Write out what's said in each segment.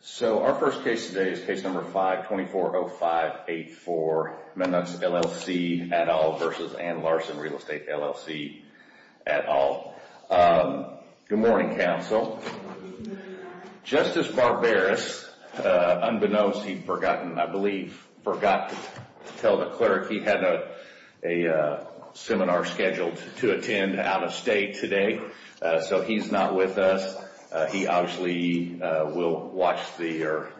So our first case today is case number 5-2405-84, Mennucks, LLC, et al. v. Anne Larson Real Estate, LLC, et al. Good morning, counsel. Justice Barberis, unbeknownst, he'd forgotten, I believe, forgot to tell the clerk he had a seminar scheduled to attend out of state today. So he's not with us. He obviously will watch or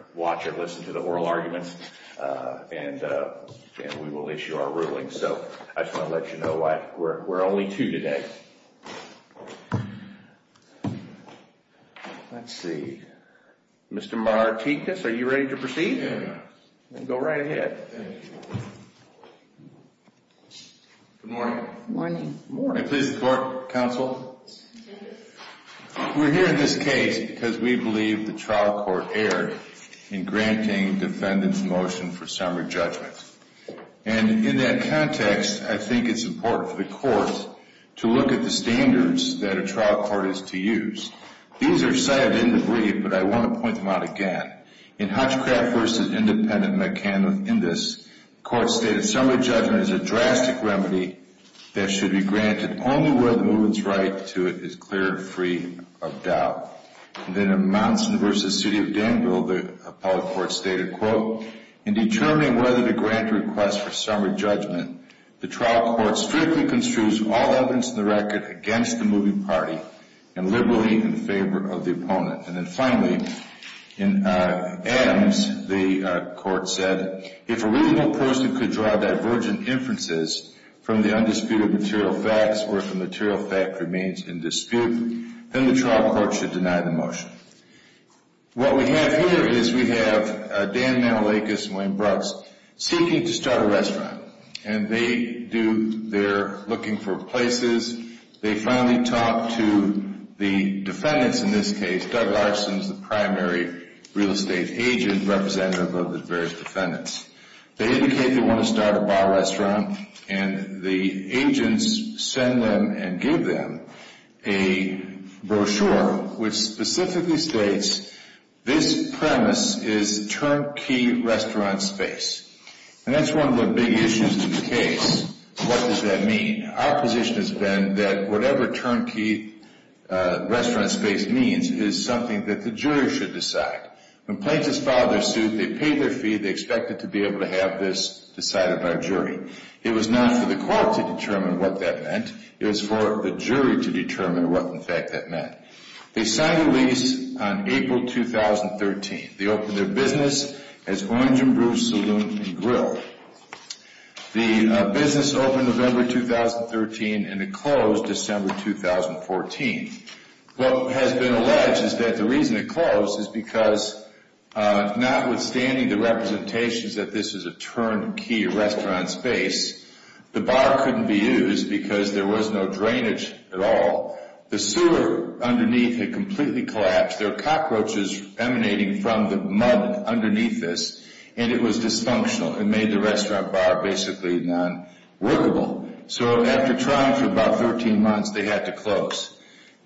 listen to the oral arguments, and we will issue our ruling. So I just want to let you know we're only two today. Let's see. Mr. Martinkus, are you ready to proceed? Yes. Then go right ahead. Good morning. Good morning. Good morning. Please report, counsel. We're here in this case because we believe the trial court erred in granting defendant's motion for summary judgment. And in that context, I think it's important for the court to look at the standards that a trial court is to use. These are cited in the brief, but I want to point them out again. In Hutchcraft v. Independent Mechanical Indice, the court stated, summary judgment is a drastic remedy that should be granted only where the movement's right to it is clear and free of doubt. And then in Mounson v. City of Danville, the appellate court stated, quote, in determining whether to grant a request for summary judgment, the trial court strictly construes all evidence in the record against the moving party and liberally in favor of the opponent. And then finally, in Adams, the court said, if a reasonable person could draw divergent inferences from the undisputed material facts or if the material fact remains in dispute, then the trial court should deny the motion. What we have here is we have Dan Manolakis and Wayne Brooks seeking to start a restaurant. And they're looking for places. They finally talk to the defendants in this case. Doug Larson is the primary real estate agent representative of the various defendants. They indicate they want to start a bar restaurant. And the agents send them and give them a brochure which specifically states, this premise is turnkey restaurant space. And that's one of the big issues to the case. What does that mean? Our position has been that whatever turnkey restaurant space means is something that the jury should decide. When plaintiffs filed their suit, they paid their fee. They expected to be able to have this decided by a jury. It was not for the court to determine what that meant. It was for the jury to determine what, in fact, that meant. They signed a lease on April 2013. They opened their business as Orange and Brew Saloon and Grill. The business opened November 2013, and it closed December 2014. What has been alleged is that the reason it closed is because, notwithstanding the representations that this is a turnkey restaurant space, the bar couldn't be used because there was no drainage at all. The sewer underneath had completely collapsed. There were cockroaches emanating from the mud underneath this, and it was dysfunctional. It made the restaurant bar basically non-workable. So after trying for about 13 months, they had to close.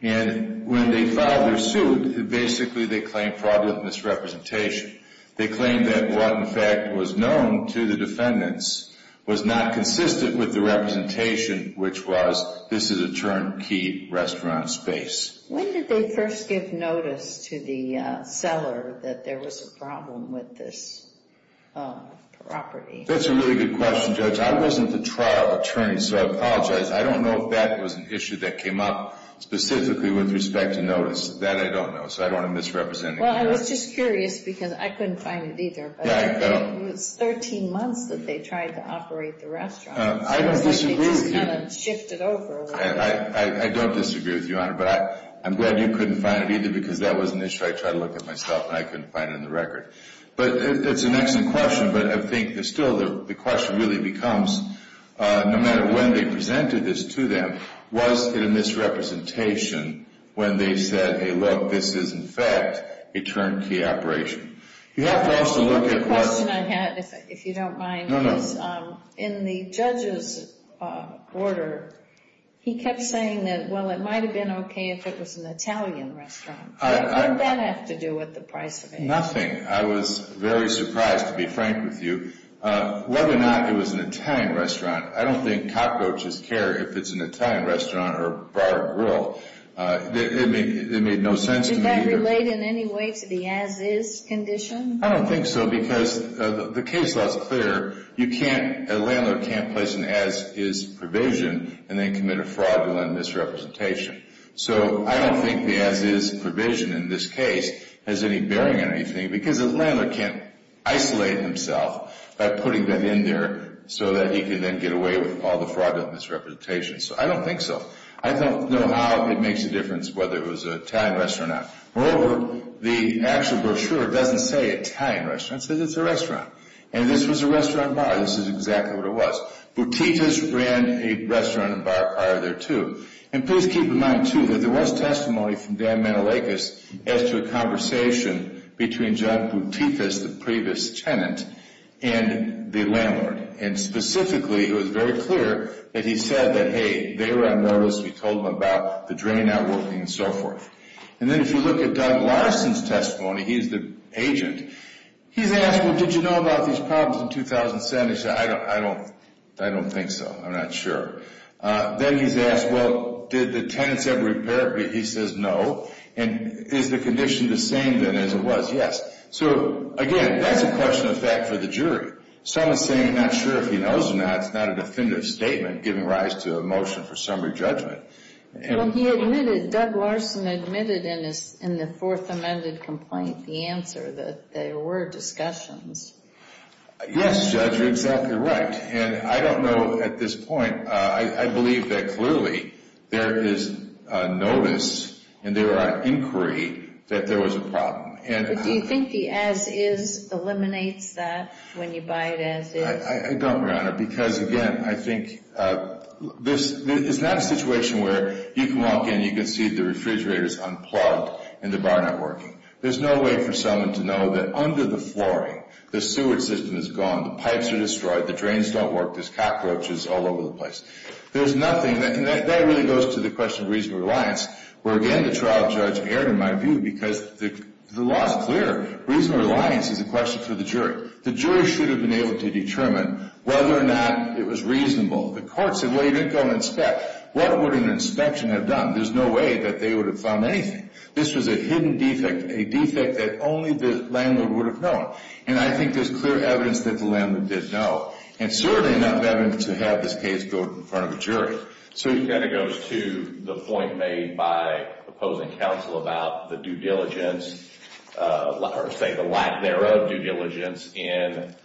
And when they filed their suit, basically they claimed fraudulent misrepresentation. They claimed that what, in fact, was known to the defendants was not consistent with the representation, which was this is a turnkey restaurant space. When did they first give notice to the seller that there was a problem with this property? That's a really good question, Judge. I wasn't the trial attorney, so I apologize. I don't know if that was an issue that came up specifically with respect to notice. That I don't know, so I don't want to misrepresent it. Well, I was just curious because I couldn't find it either. Yeah, I know. It was 13 months that they tried to operate the restaurant. I don't disagree with you. They just kind of shifted over a little bit. I don't disagree with you, Honor. But I'm glad you couldn't find it either because that was an issue I tried to look at myself, and I couldn't find it in the record. But it's an excellent question, but I think still the question really becomes, no matter when they presented this to them, was it a misrepresentation when they said, hey, look, this is, in fact, a turnkey operation? You have to also look at what— He kept saying that, well, it might have been okay if it was an Italian restaurant. What did that have to do with the price of it? Nothing. I was very surprised, to be frank with you. Whether or not it was an Italian restaurant, I don't think cockroaches care if it's an Italian restaurant or a bar or grill. It made no sense to me. Did that relate in any way to the as-is condition? I don't think so because the case law is clear. A landlord can't place an as-is provision and then commit a fraudulent misrepresentation. So I don't think the as-is provision in this case has any bearing on anything because a landlord can't isolate himself by putting that in there so that he can then get away with all the fraudulent misrepresentations. So I don't think so. I don't know how it makes a difference whether it was an Italian restaurant or not. Moreover, the actual brochure doesn't say Italian restaurant. It says it's a restaurant. And this was a restaurant and bar. This is exactly what it was. Boutifas ran a restaurant and bar prior there, too. And please keep in mind, too, that there was testimony from Dan Manalakis as to a conversation between John Boutifas, the previous tenant, and the landlord. And specifically, it was very clear that he said that, hey, they were on notice. We told them about the drain out working and so forth. And then if you look at Doug Larson's testimony, he's the agent, he's asked, well, did you know about these problems in 2007? He said, I don't think so. I'm not sure. Then he's asked, well, did the tenants ever repair it? He says no. And is the condition the same then as it was? Yes. So, again, that's a question of fact for the jury. Someone's saying they're not sure if he knows or not is not a definitive statement giving rise to a motion for summary judgment. Well, he admitted, Doug Larson admitted in the fourth amended complaint the answer, that there were discussions. Yes, Judge, you're exactly right. And I don't know at this point, I believe that clearly there is notice and there are inquiry that there was a problem. But do you think the as is eliminates that when you buy it as is? I don't, Your Honor. Because, again, I think this is not a situation where you can walk in and you can see the refrigerator is unplugged and the bar not working. There's no way for someone to know that under the flooring, the sewer system is gone, the pipes are destroyed, the drains don't work, there's cockroaches all over the place. There's nothing, and that really goes to the question of reasonable reliance, where, again, the trial judge erred in my view because the law is clear. Reasonable reliance is a question for the jury. The jury should have been able to determine whether or not it was reasonable. The court said, well, you didn't go and inspect. What would an inspection have done? There's no way that they would have found anything. This was a hidden defect, a defect that only the landlord would have known. And I think there's clear evidence that the landlord did know, and certainly enough evidence to have this case go in front of a jury. So he kind of goes to the point made by opposing counsel about the due diligence, or say the lack thereof, due diligence in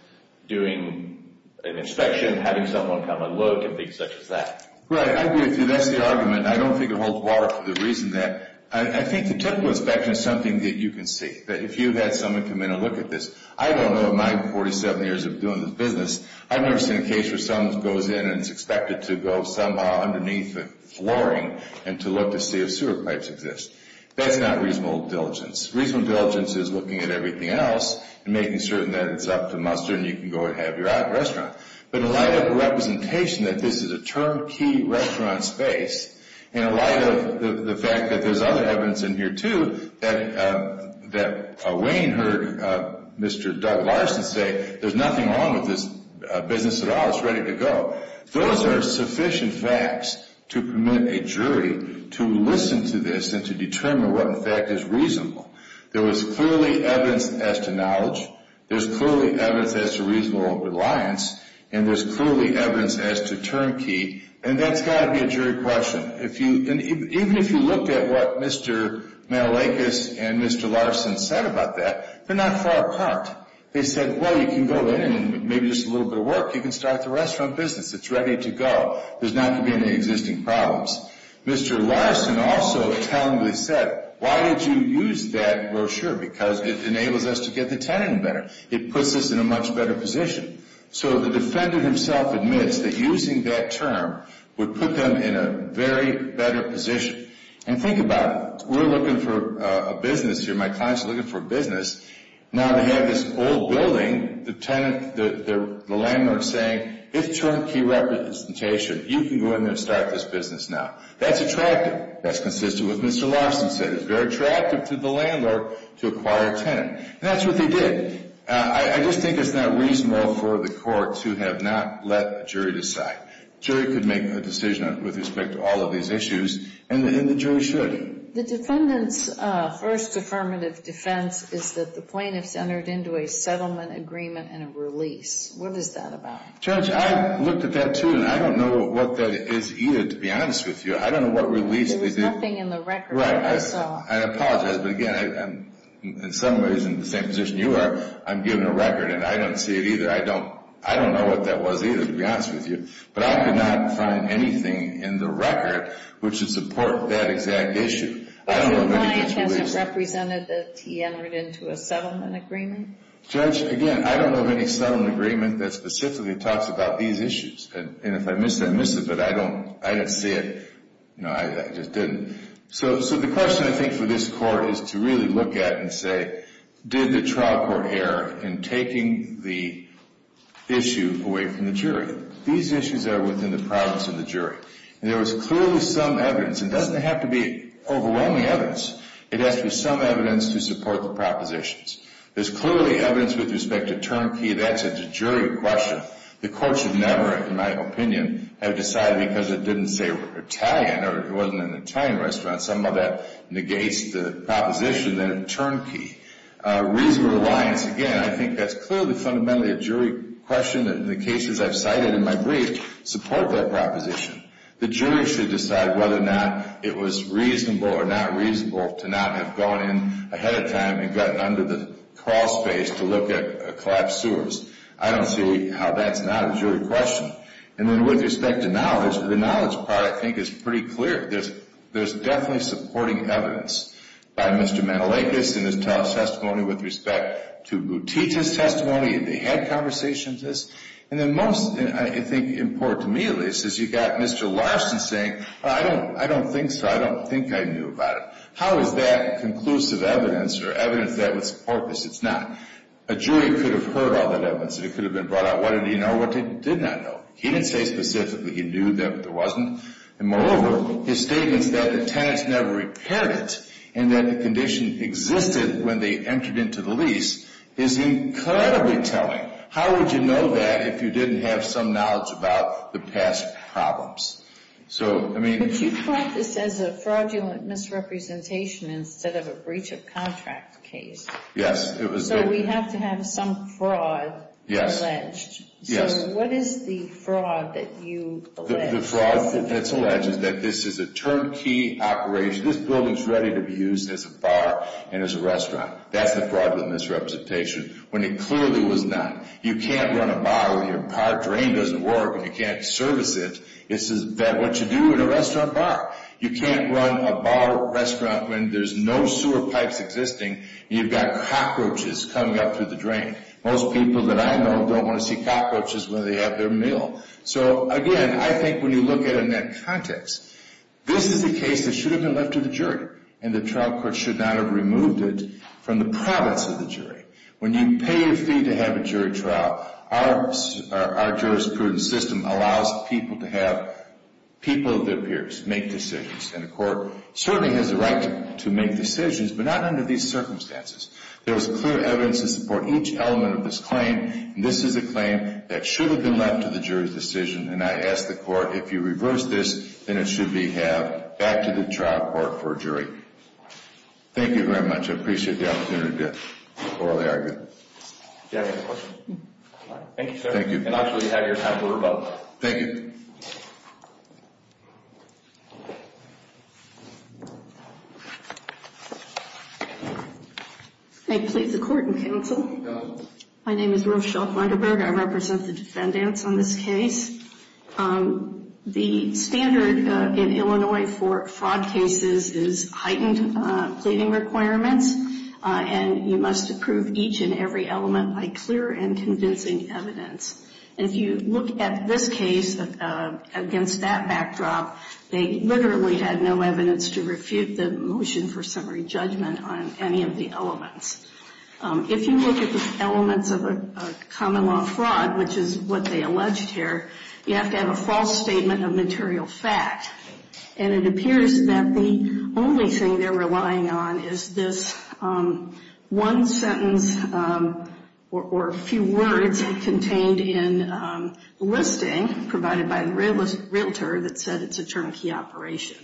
doing an inspection, having someone come and look and things such as that. Right, I agree with you. That's the argument. I don't think it holds water for the reason that I think the typical inspection is something that you can see. If you had someone come in and look at this, I don't know in my 47 years of doing this business, I've never seen a case where someone goes in and it's expected to go somehow underneath the flooring and to look to see if sewer pipes exist. That's not reasonable diligence. Reasonable diligence is looking at everything else and making certain that it's up to muster and you can go and have your restaurant. But in light of the representation that this is a turnkey restaurant space, and in light of the fact that there's other evidence in here, too, that Wayne heard Mr. Doug Larson say there's nothing wrong with this business at all. It's ready to go. Those are sufficient facts to permit a jury to listen to this and to determine what, in fact, is reasonable. There was clearly evidence as to knowledge. There's clearly evidence as to reasonable reliance. And there's clearly evidence as to turnkey. And that's got to be a jury question. Even if you looked at what Mr. Matalakis and Mr. Larson said about that, they're not far apart. They said, well, you can go in and maybe just a little bit of work, you can start the restaurant business. It's ready to go. There's not going to be any existing problems. Mr. Larson also talentedly said, why did you use that brochure? Because it enables us to get the tenant better. It puts us in a much better position. So the defendant himself admits that using that term would put them in a very better position. And think about it. We're looking for a business here. My clients are looking for a business. Now they have this old building, the tenant, the landlord saying, it's turnkey representation. You can go in there and start this business now. That's attractive. That's consistent with what Mr. Larson said. It's very attractive to the landlord to acquire a tenant. And that's what they did. I just think it's not reasonable for the court to have not let a jury decide. The jury could make a decision with respect to all of these issues, and the jury should. The defendant's first affirmative defense is that the plaintiff's entered into a settlement agreement and a release. What is that about? Judge, I looked at that, too, and I don't know what that is either, to be honest with you. I don't know what release they did. There was nothing in the record. Right. I apologize. But, again, in some ways, in the same position you are, I'm given a record, and I don't see it either. I don't know what that was either, to be honest with you. But I could not find anything in the record which would support that exact issue. I don't know of any such release. The client hasn't represented that he entered into a settlement agreement? Judge, again, I don't know of any settlement agreement that specifically talks about these issues. And if I missed it, I missed it, but I don't see it. I just didn't. So the question, I think, for this court is to really look at and say, did the trial court err in taking the issue away from the jury? These issues are within the province of the jury. And there was clearly some evidence, and it doesn't have to be overwhelming evidence. It has to be some evidence to support the propositions. There's clearly evidence with respect to turnkey. That's a jury question. The court should never, in my opinion, have decided because it didn't say Italian or it wasn't an Italian restaurant. Some of that negates the proposition that it's turnkey. Reasonable reliance, again, I think that's clearly fundamentally a jury question. And the cases I've cited in my brief support that proposition. The jury should decide whether or not it was reasonable or not reasonable to not have gone in ahead of time and gotten under the crawl space to look at collapsed sewers. I don't see how that's not a jury question. And then with respect to knowledge, the knowledge part, I think, is pretty clear. There's definitely supporting evidence by Mr. Mantelakis in his testimony with respect to Boutique's testimony. They had conversations with this. And then most, I think, important to me at least, is you've got Mr. Larson saying, I don't think so, I don't think I knew about it. How is that conclusive evidence or evidence that would support this? It's not. A jury could have heard all that evidence. It could have been brought out. What did he know? What did he not know? He didn't say specifically. He knew that there wasn't. And moreover, his statements that the tenants never repaired it and that the condition existed when they entered into the lease is incredibly telling. How would you know that if you didn't have some knowledge about the past problems? So, I mean. But you brought this as a fraudulent misrepresentation instead of a breach of contract case. Yes, it was. So we have to have some fraud alleged. Yes. So what is the fraud that you allege? I think the fraud that's alleged is that this is a turnkey operation. This building is ready to be used as a bar and as a restaurant. That's the fraudulent misrepresentation when it clearly was not. You can't run a bar when your drain doesn't work and you can't service it. This is what you do at a restaurant bar. You can't run a bar restaurant when there's no sewer pipes existing and you've got cockroaches coming up through the drain. Most people that I know don't want to see cockroaches when they have their meal. So, again, I think when you look at it in that context, this is a case that should have been left to the jury and the trial court should not have removed it from the province of the jury. When you pay your fee to have a jury trial, our jurisprudence system allows people to have people of their peers make decisions. And the court certainly has the right to make decisions, but not under these circumstances. There is clear evidence to support each element of this claim. This is a claim that should have been left to the jury's decision. And I ask the court, if you reverse this, then it should be have back to the trial court for a jury. Thank you very much. I appreciate the opportunity to orally argue. Do you have any questions? Thank you, sir. Thank you. And actually have your time to vote. Thank you. I plead the court in counsel. Counsel. My name is Rochelle Flunderburg. I represent the defendants on this case. The standard in Illinois for fraud cases is heightened pleading requirements. And you must approve each and every element by clear and convincing evidence. And if you look at this case against that backdrop, they literally had no evidence to refute the motion for summary judgment on any of the elements. If you look at the elements of a common law fraud, which is what they alleged here, you have to have a false statement of material fact. And it appears that the only thing they're relying on is this one sentence or a few words contained in the listing provided by the realtor that said it's a turnkey operation.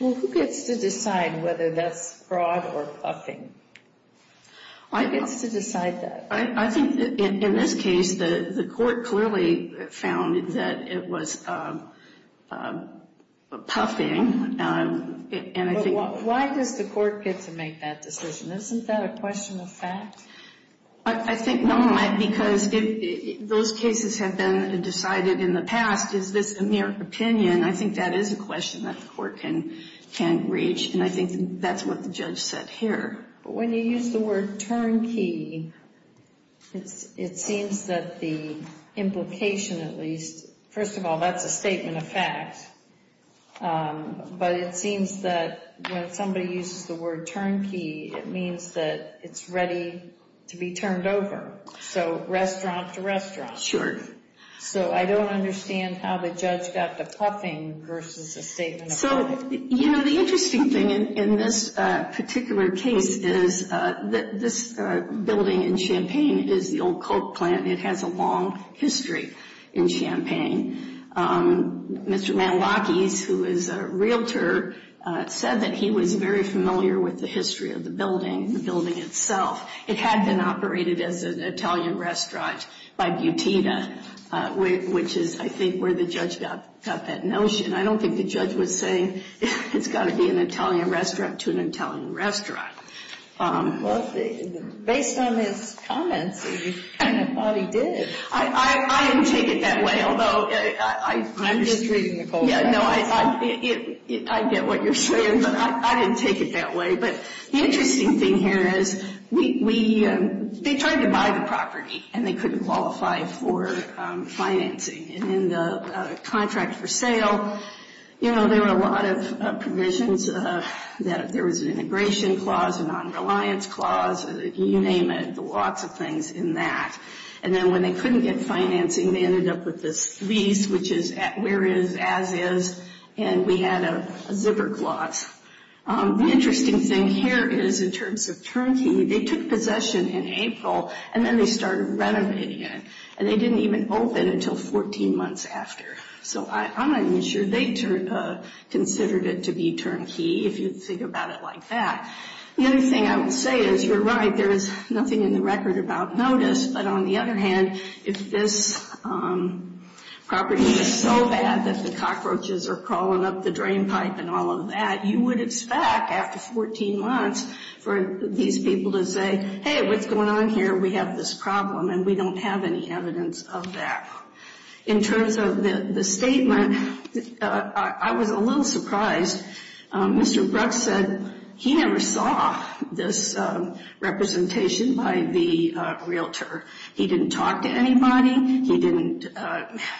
Well, who gets to decide whether that's fraud or puffing? Who gets to decide that? I think in this case the court clearly found that it was puffing. Why does the court get to make that decision? Isn't that a question of fact? I think not, because those cases have been decided in the past. Is this a mere opinion? And I think that is a question that the court can reach, and I think that's what the judge said here. When you use the word turnkey, it seems that the implication at least, first of all, that's a statement of fact. But it seems that when somebody uses the word turnkey, it means that it's ready to be turned over. So restaurant to restaurant. Sure. So I don't understand how the judge got to puffing versus a statement of fact. So, you know, the interesting thing in this particular case is that this building in Champaign is the old Coke plant. It has a long history in Champaign. Mr. Malachy, who is a realtor, said that he was very familiar with the history of the building, the building itself. It had been operated as an Italian restaurant by Butina, which is, I think, where the judge got that notion. I don't think the judge was saying it's got to be an Italian restaurant to an Italian restaurant. Well, based on his comments, he kind of thought he did. I didn't take it that way, although I'm just – I'm just reading the court records. I get what you're saying, but I didn't take it that way. But the interesting thing here is we – they tried to buy the property, and they couldn't qualify for financing. And in the contract for sale, you know, there were a lot of provisions that – there was an integration clause, a nonreliance clause, you name it, lots of things in that. And then when they couldn't get financing, they ended up with this lease, which is where is, as is. And we had a zipper clause. The interesting thing here is, in terms of turnkey, they took possession in April, and then they started renovating it. And they didn't even open it until 14 months after. So I'm not even sure they considered it to be turnkey, if you think about it like that. The other thing I would say is, you're right, there is nothing in the record about notice. But on the other hand, if this property is so bad that the cockroaches are crawling up the drainpipe and all of that, you would expect, after 14 months, for these people to say, hey, what's going on here? We have this problem, and we don't have any evidence of that. In terms of the statement, I was a little surprised. Mr. Brooks said he never saw this representation by the realtor. He didn't talk to anybody. He didn't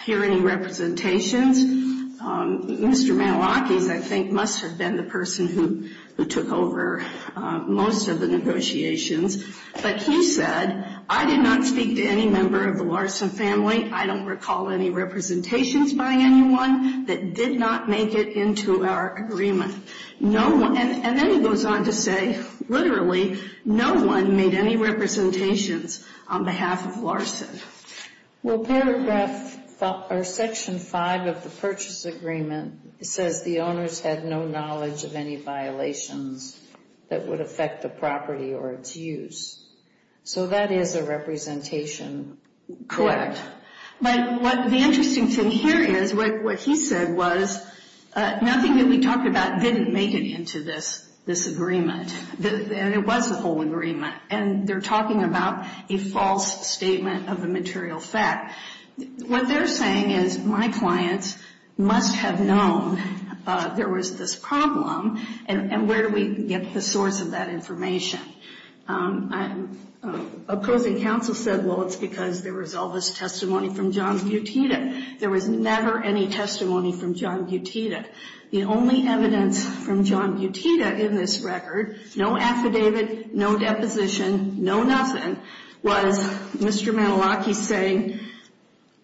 hear any representations. Mr. Malachy, I think, must have been the person who took over most of the negotiations. But he said, I did not speak to any member of the Larson family. I don't recall any representations by anyone that did not make it into our agreement. And then he goes on to say, literally, no one made any representations on behalf of Larson. Well, paragraph, or section 5 of the purchase agreement, it says the owners had no knowledge of any violations that would affect the property or its use. So that is a representation. Correct. But the interesting thing here is, what he said was, nothing that we talked about didn't make it into this agreement. And it was a whole agreement. And they're talking about a false statement of a material fact. What they're saying is, my clients must have known there was this problem, and where do we get the source of that information? Opposing counsel said, well, it's because there was all this testimony from John Butita. There was never any testimony from John Butita. The only evidence from John Butita in this record, no affidavit, no deposition, no nothing, was Mr. Mantelocchi saying,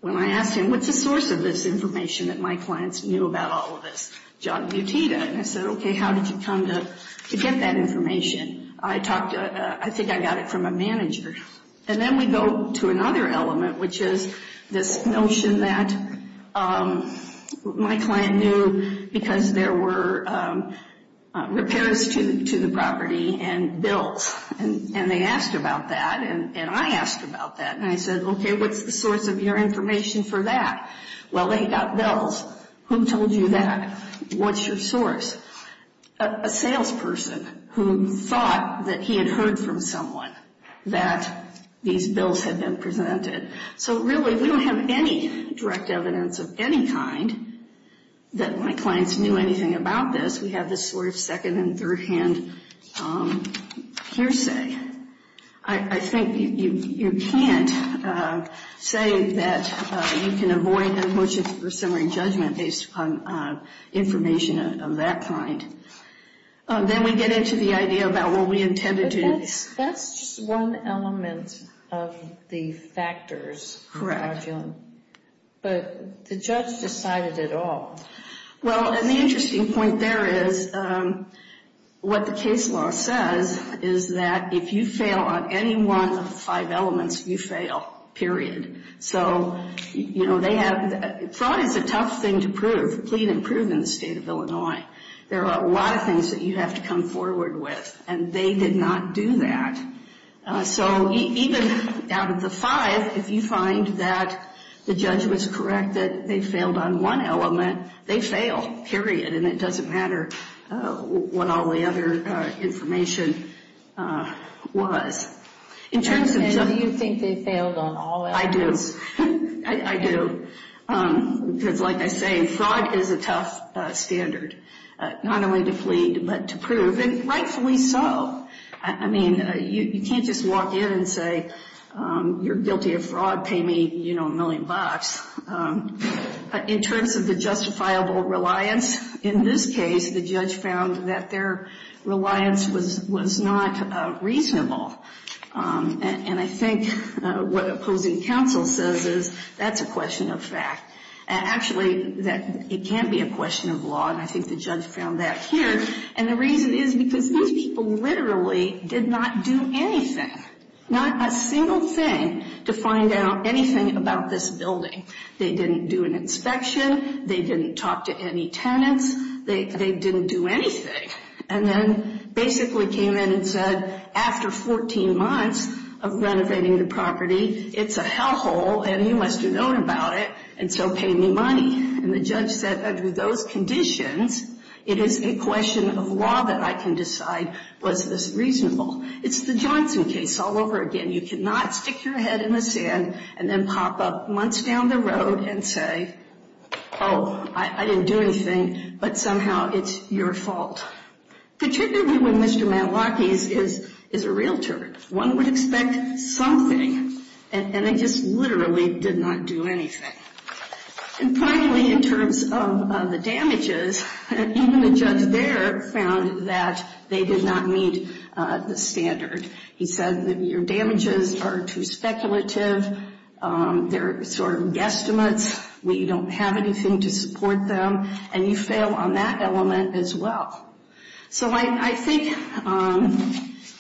when I asked him, what's the source of this information that my clients knew about all of this? John Butita. And I said, okay, how did you come to get that information? I talked to, I think I got it from a manager. And then we go to another element, which is this notion that my client knew because there were repairs to the property and bills. And they asked about that, and I asked about that. And I said, okay, what's the source of your information for that? Well, they got bills. Who told you that? What's your source? A salesperson who thought that he had heard from someone that these bills had been presented. So, really, we don't have any direct evidence of any kind that my clients knew anything about this. We have this sort of second- and third-hand hearsay. I think you can't say that you can avoid a motion for summary judgment based upon information of that kind. Then we get into the idea about what we intended to do. But that's just one element of the factors. Correct. But the judge decided it all. Well, and the interesting point there is what the case law says is that if you fail on any one of the five elements, you fail. Period. So, you know, fraud is a tough thing to prove, plead and prove in the state of Illinois. There are a lot of things that you have to come forward with, and they did not do that. So, even out of the five, if you find that the judge was correct that they failed on one element, they fail. Period. And it doesn't matter what all the other information was. And do you think they failed on all elements? I do. I do. Because, like I say, fraud is a tough standard, not only to plead but to prove, and rightfully so. I mean, you can't just walk in and say, you're guilty of fraud, pay me, you know, a million bucks. In terms of the justifiable reliance, in this case, the judge found that their reliance was not reasonable. And I think what opposing counsel says is that's a question of fact. Actually, it can be a question of law, and I think the judge found that here. And the reason is because these people literally did not do anything, not a single thing, to find out anything about this building. They didn't do an inspection. They didn't talk to any tenants. They didn't do anything. And then basically came in and said, after 14 months of renovating the property, it's a hellhole, and you must have known about it, and so pay me money. And the judge said, under those conditions, it is a question of law that I can decide was this reasonable. It's the Johnson case all over again. You cannot stick your head in the sand and then pop up months down the road and say, oh, I didn't do anything, but somehow it's your fault. Particularly when Mr. Matlocky is a realtor. One would expect something, and they just literally did not do anything. And finally, in terms of the damages, even the judge there found that they did not meet the standard. He said that your damages are too speculative. They're sort of guesstimates. We don't have anything to support them, and you fail on that element as well. So I think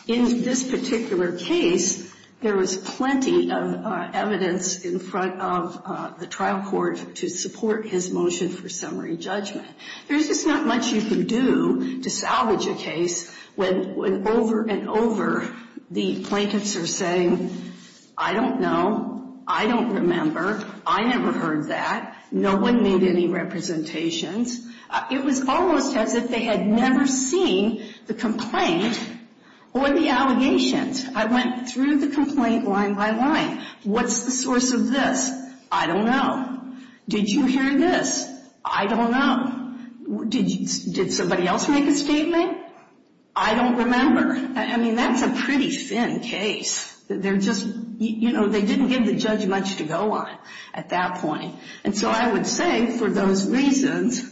in this particular case, there was plenty of evidence in front of the trial court to support his motion for summary judgment. There's just not much you can do to salvage a case when over and over the plaintiffs are saying, I don't know. I don't remember. I never heard that. No one made any representations. It was almost as if they had never seen the complaint or the allegations. I went through the complaint line by line. What's the source of this? I don't know. Did you hear this? I don't know. Did somebody else make a statement? I don't remember. I mean, that's a pretty thin case. They're just, you know, they didn't give the judge much to go on at that point. And so I would say for those reasons,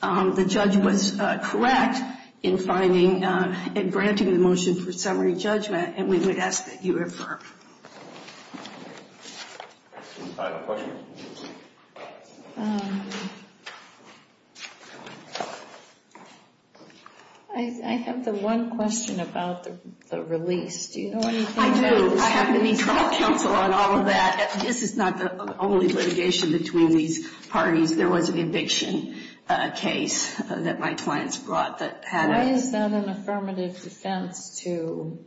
the judge was correct in finding and granting the motion for summary judgment. And we would ask that you refer. Final question? I have the one question about the release. Do you know anything about the release? I do. I have to meet trial counsel on all of that. This is not the only litigation between these parties. There was an eviction case that my clients brought that had a ---- Why is that an affirmative defense to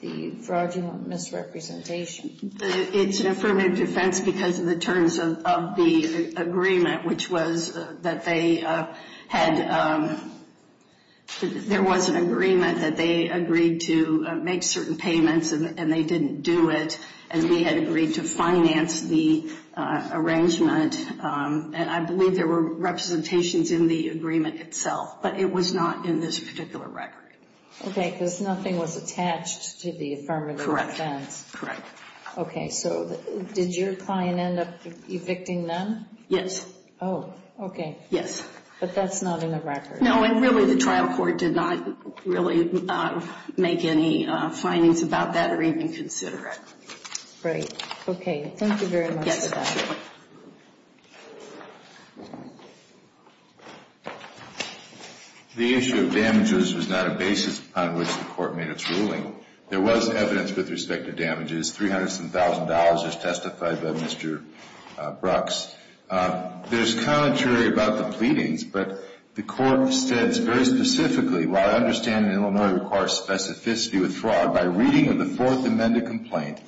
the fraudulent misrepresentation? It's an affirmative defense because of the terms of the agreement, which was that they had ---- There was an agreement that they agreed to make certain payments, and they didn't do it. And we had agreed to finance the arrangement. And I believe there were representations in the agreement itself, but it was not in this particular record. Okay, because nothing was attached to the affirmative defense. Correct. Okay, so did your client end up evicting them? Yes. Oh, okay. Yes. But that's not in the record. No, and really the trial court did not really make any findings about that or even consider it. Great. Okay, thank you very much. Yes. Thank you. The issue of damages was not a basis on which the Court made its ruling. There was evidence with respect to damages, $300,000 as testified by Mr. Brooks. There's commentary about the pleadings, but the Court states very specifically, while I understand that Illinois requires specificity with fraud, by reading of the Fourth Amendment complaint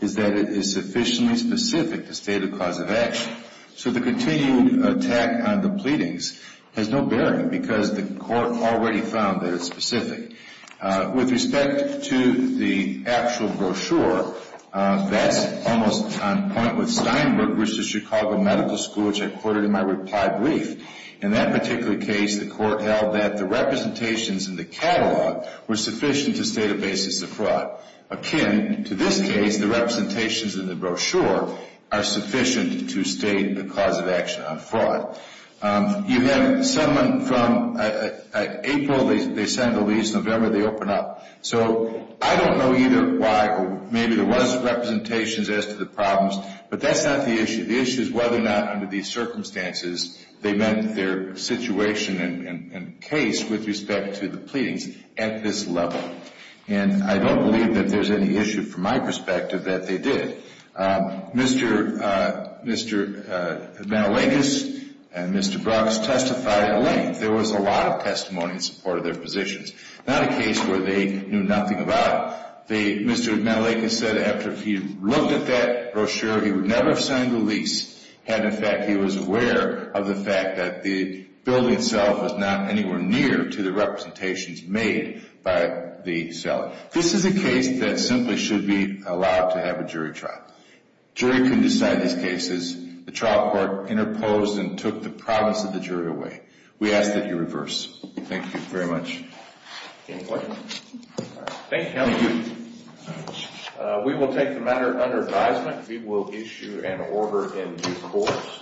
is that it is sufficiently specific to state a cause of action. So the continued attack on the pleadings has no bearing because the Court already found that it's specific. With respect to the actual brochure, that's almost on point with Steinbrook v. Chicago Medical School, which I quoted in my reply brief. In that particular case, the Court held that the representations in the catalog were sufficient to state a basis of fraud. Akin to this case, the representations in the brochure are sufficient to state a cause of action on fraud. You have someone from April, they send the lease, November they open up. So I don't know either why or maybe there was representations as to the problems, but that's not the issue. The issue is whether or not under these circumstances they meant their situation and case with respect to the pleadings at this level. And I don't believe that there's any issue from my perspective that they did. Mr. Mantelakis and Mr. Brooks testified at length. There was a lot of testimony in support of their positions. Not a case where they knew nothing about it. Mr. Mantelakis said after he looked at that brochure, he would never have signed the lease, had in fact he was aware of the fact that the building itself was not anywhere near to the representations made by the seller. This is a case that simply should be allowed to have a jury trial. Jury can decide these cases. The trial court interposed and took the province of the jury away. We ask that you reverse. Thank you very much. Any questions? Thank you. Thank you. We will take the matter under advisement. We will issue an order in due course.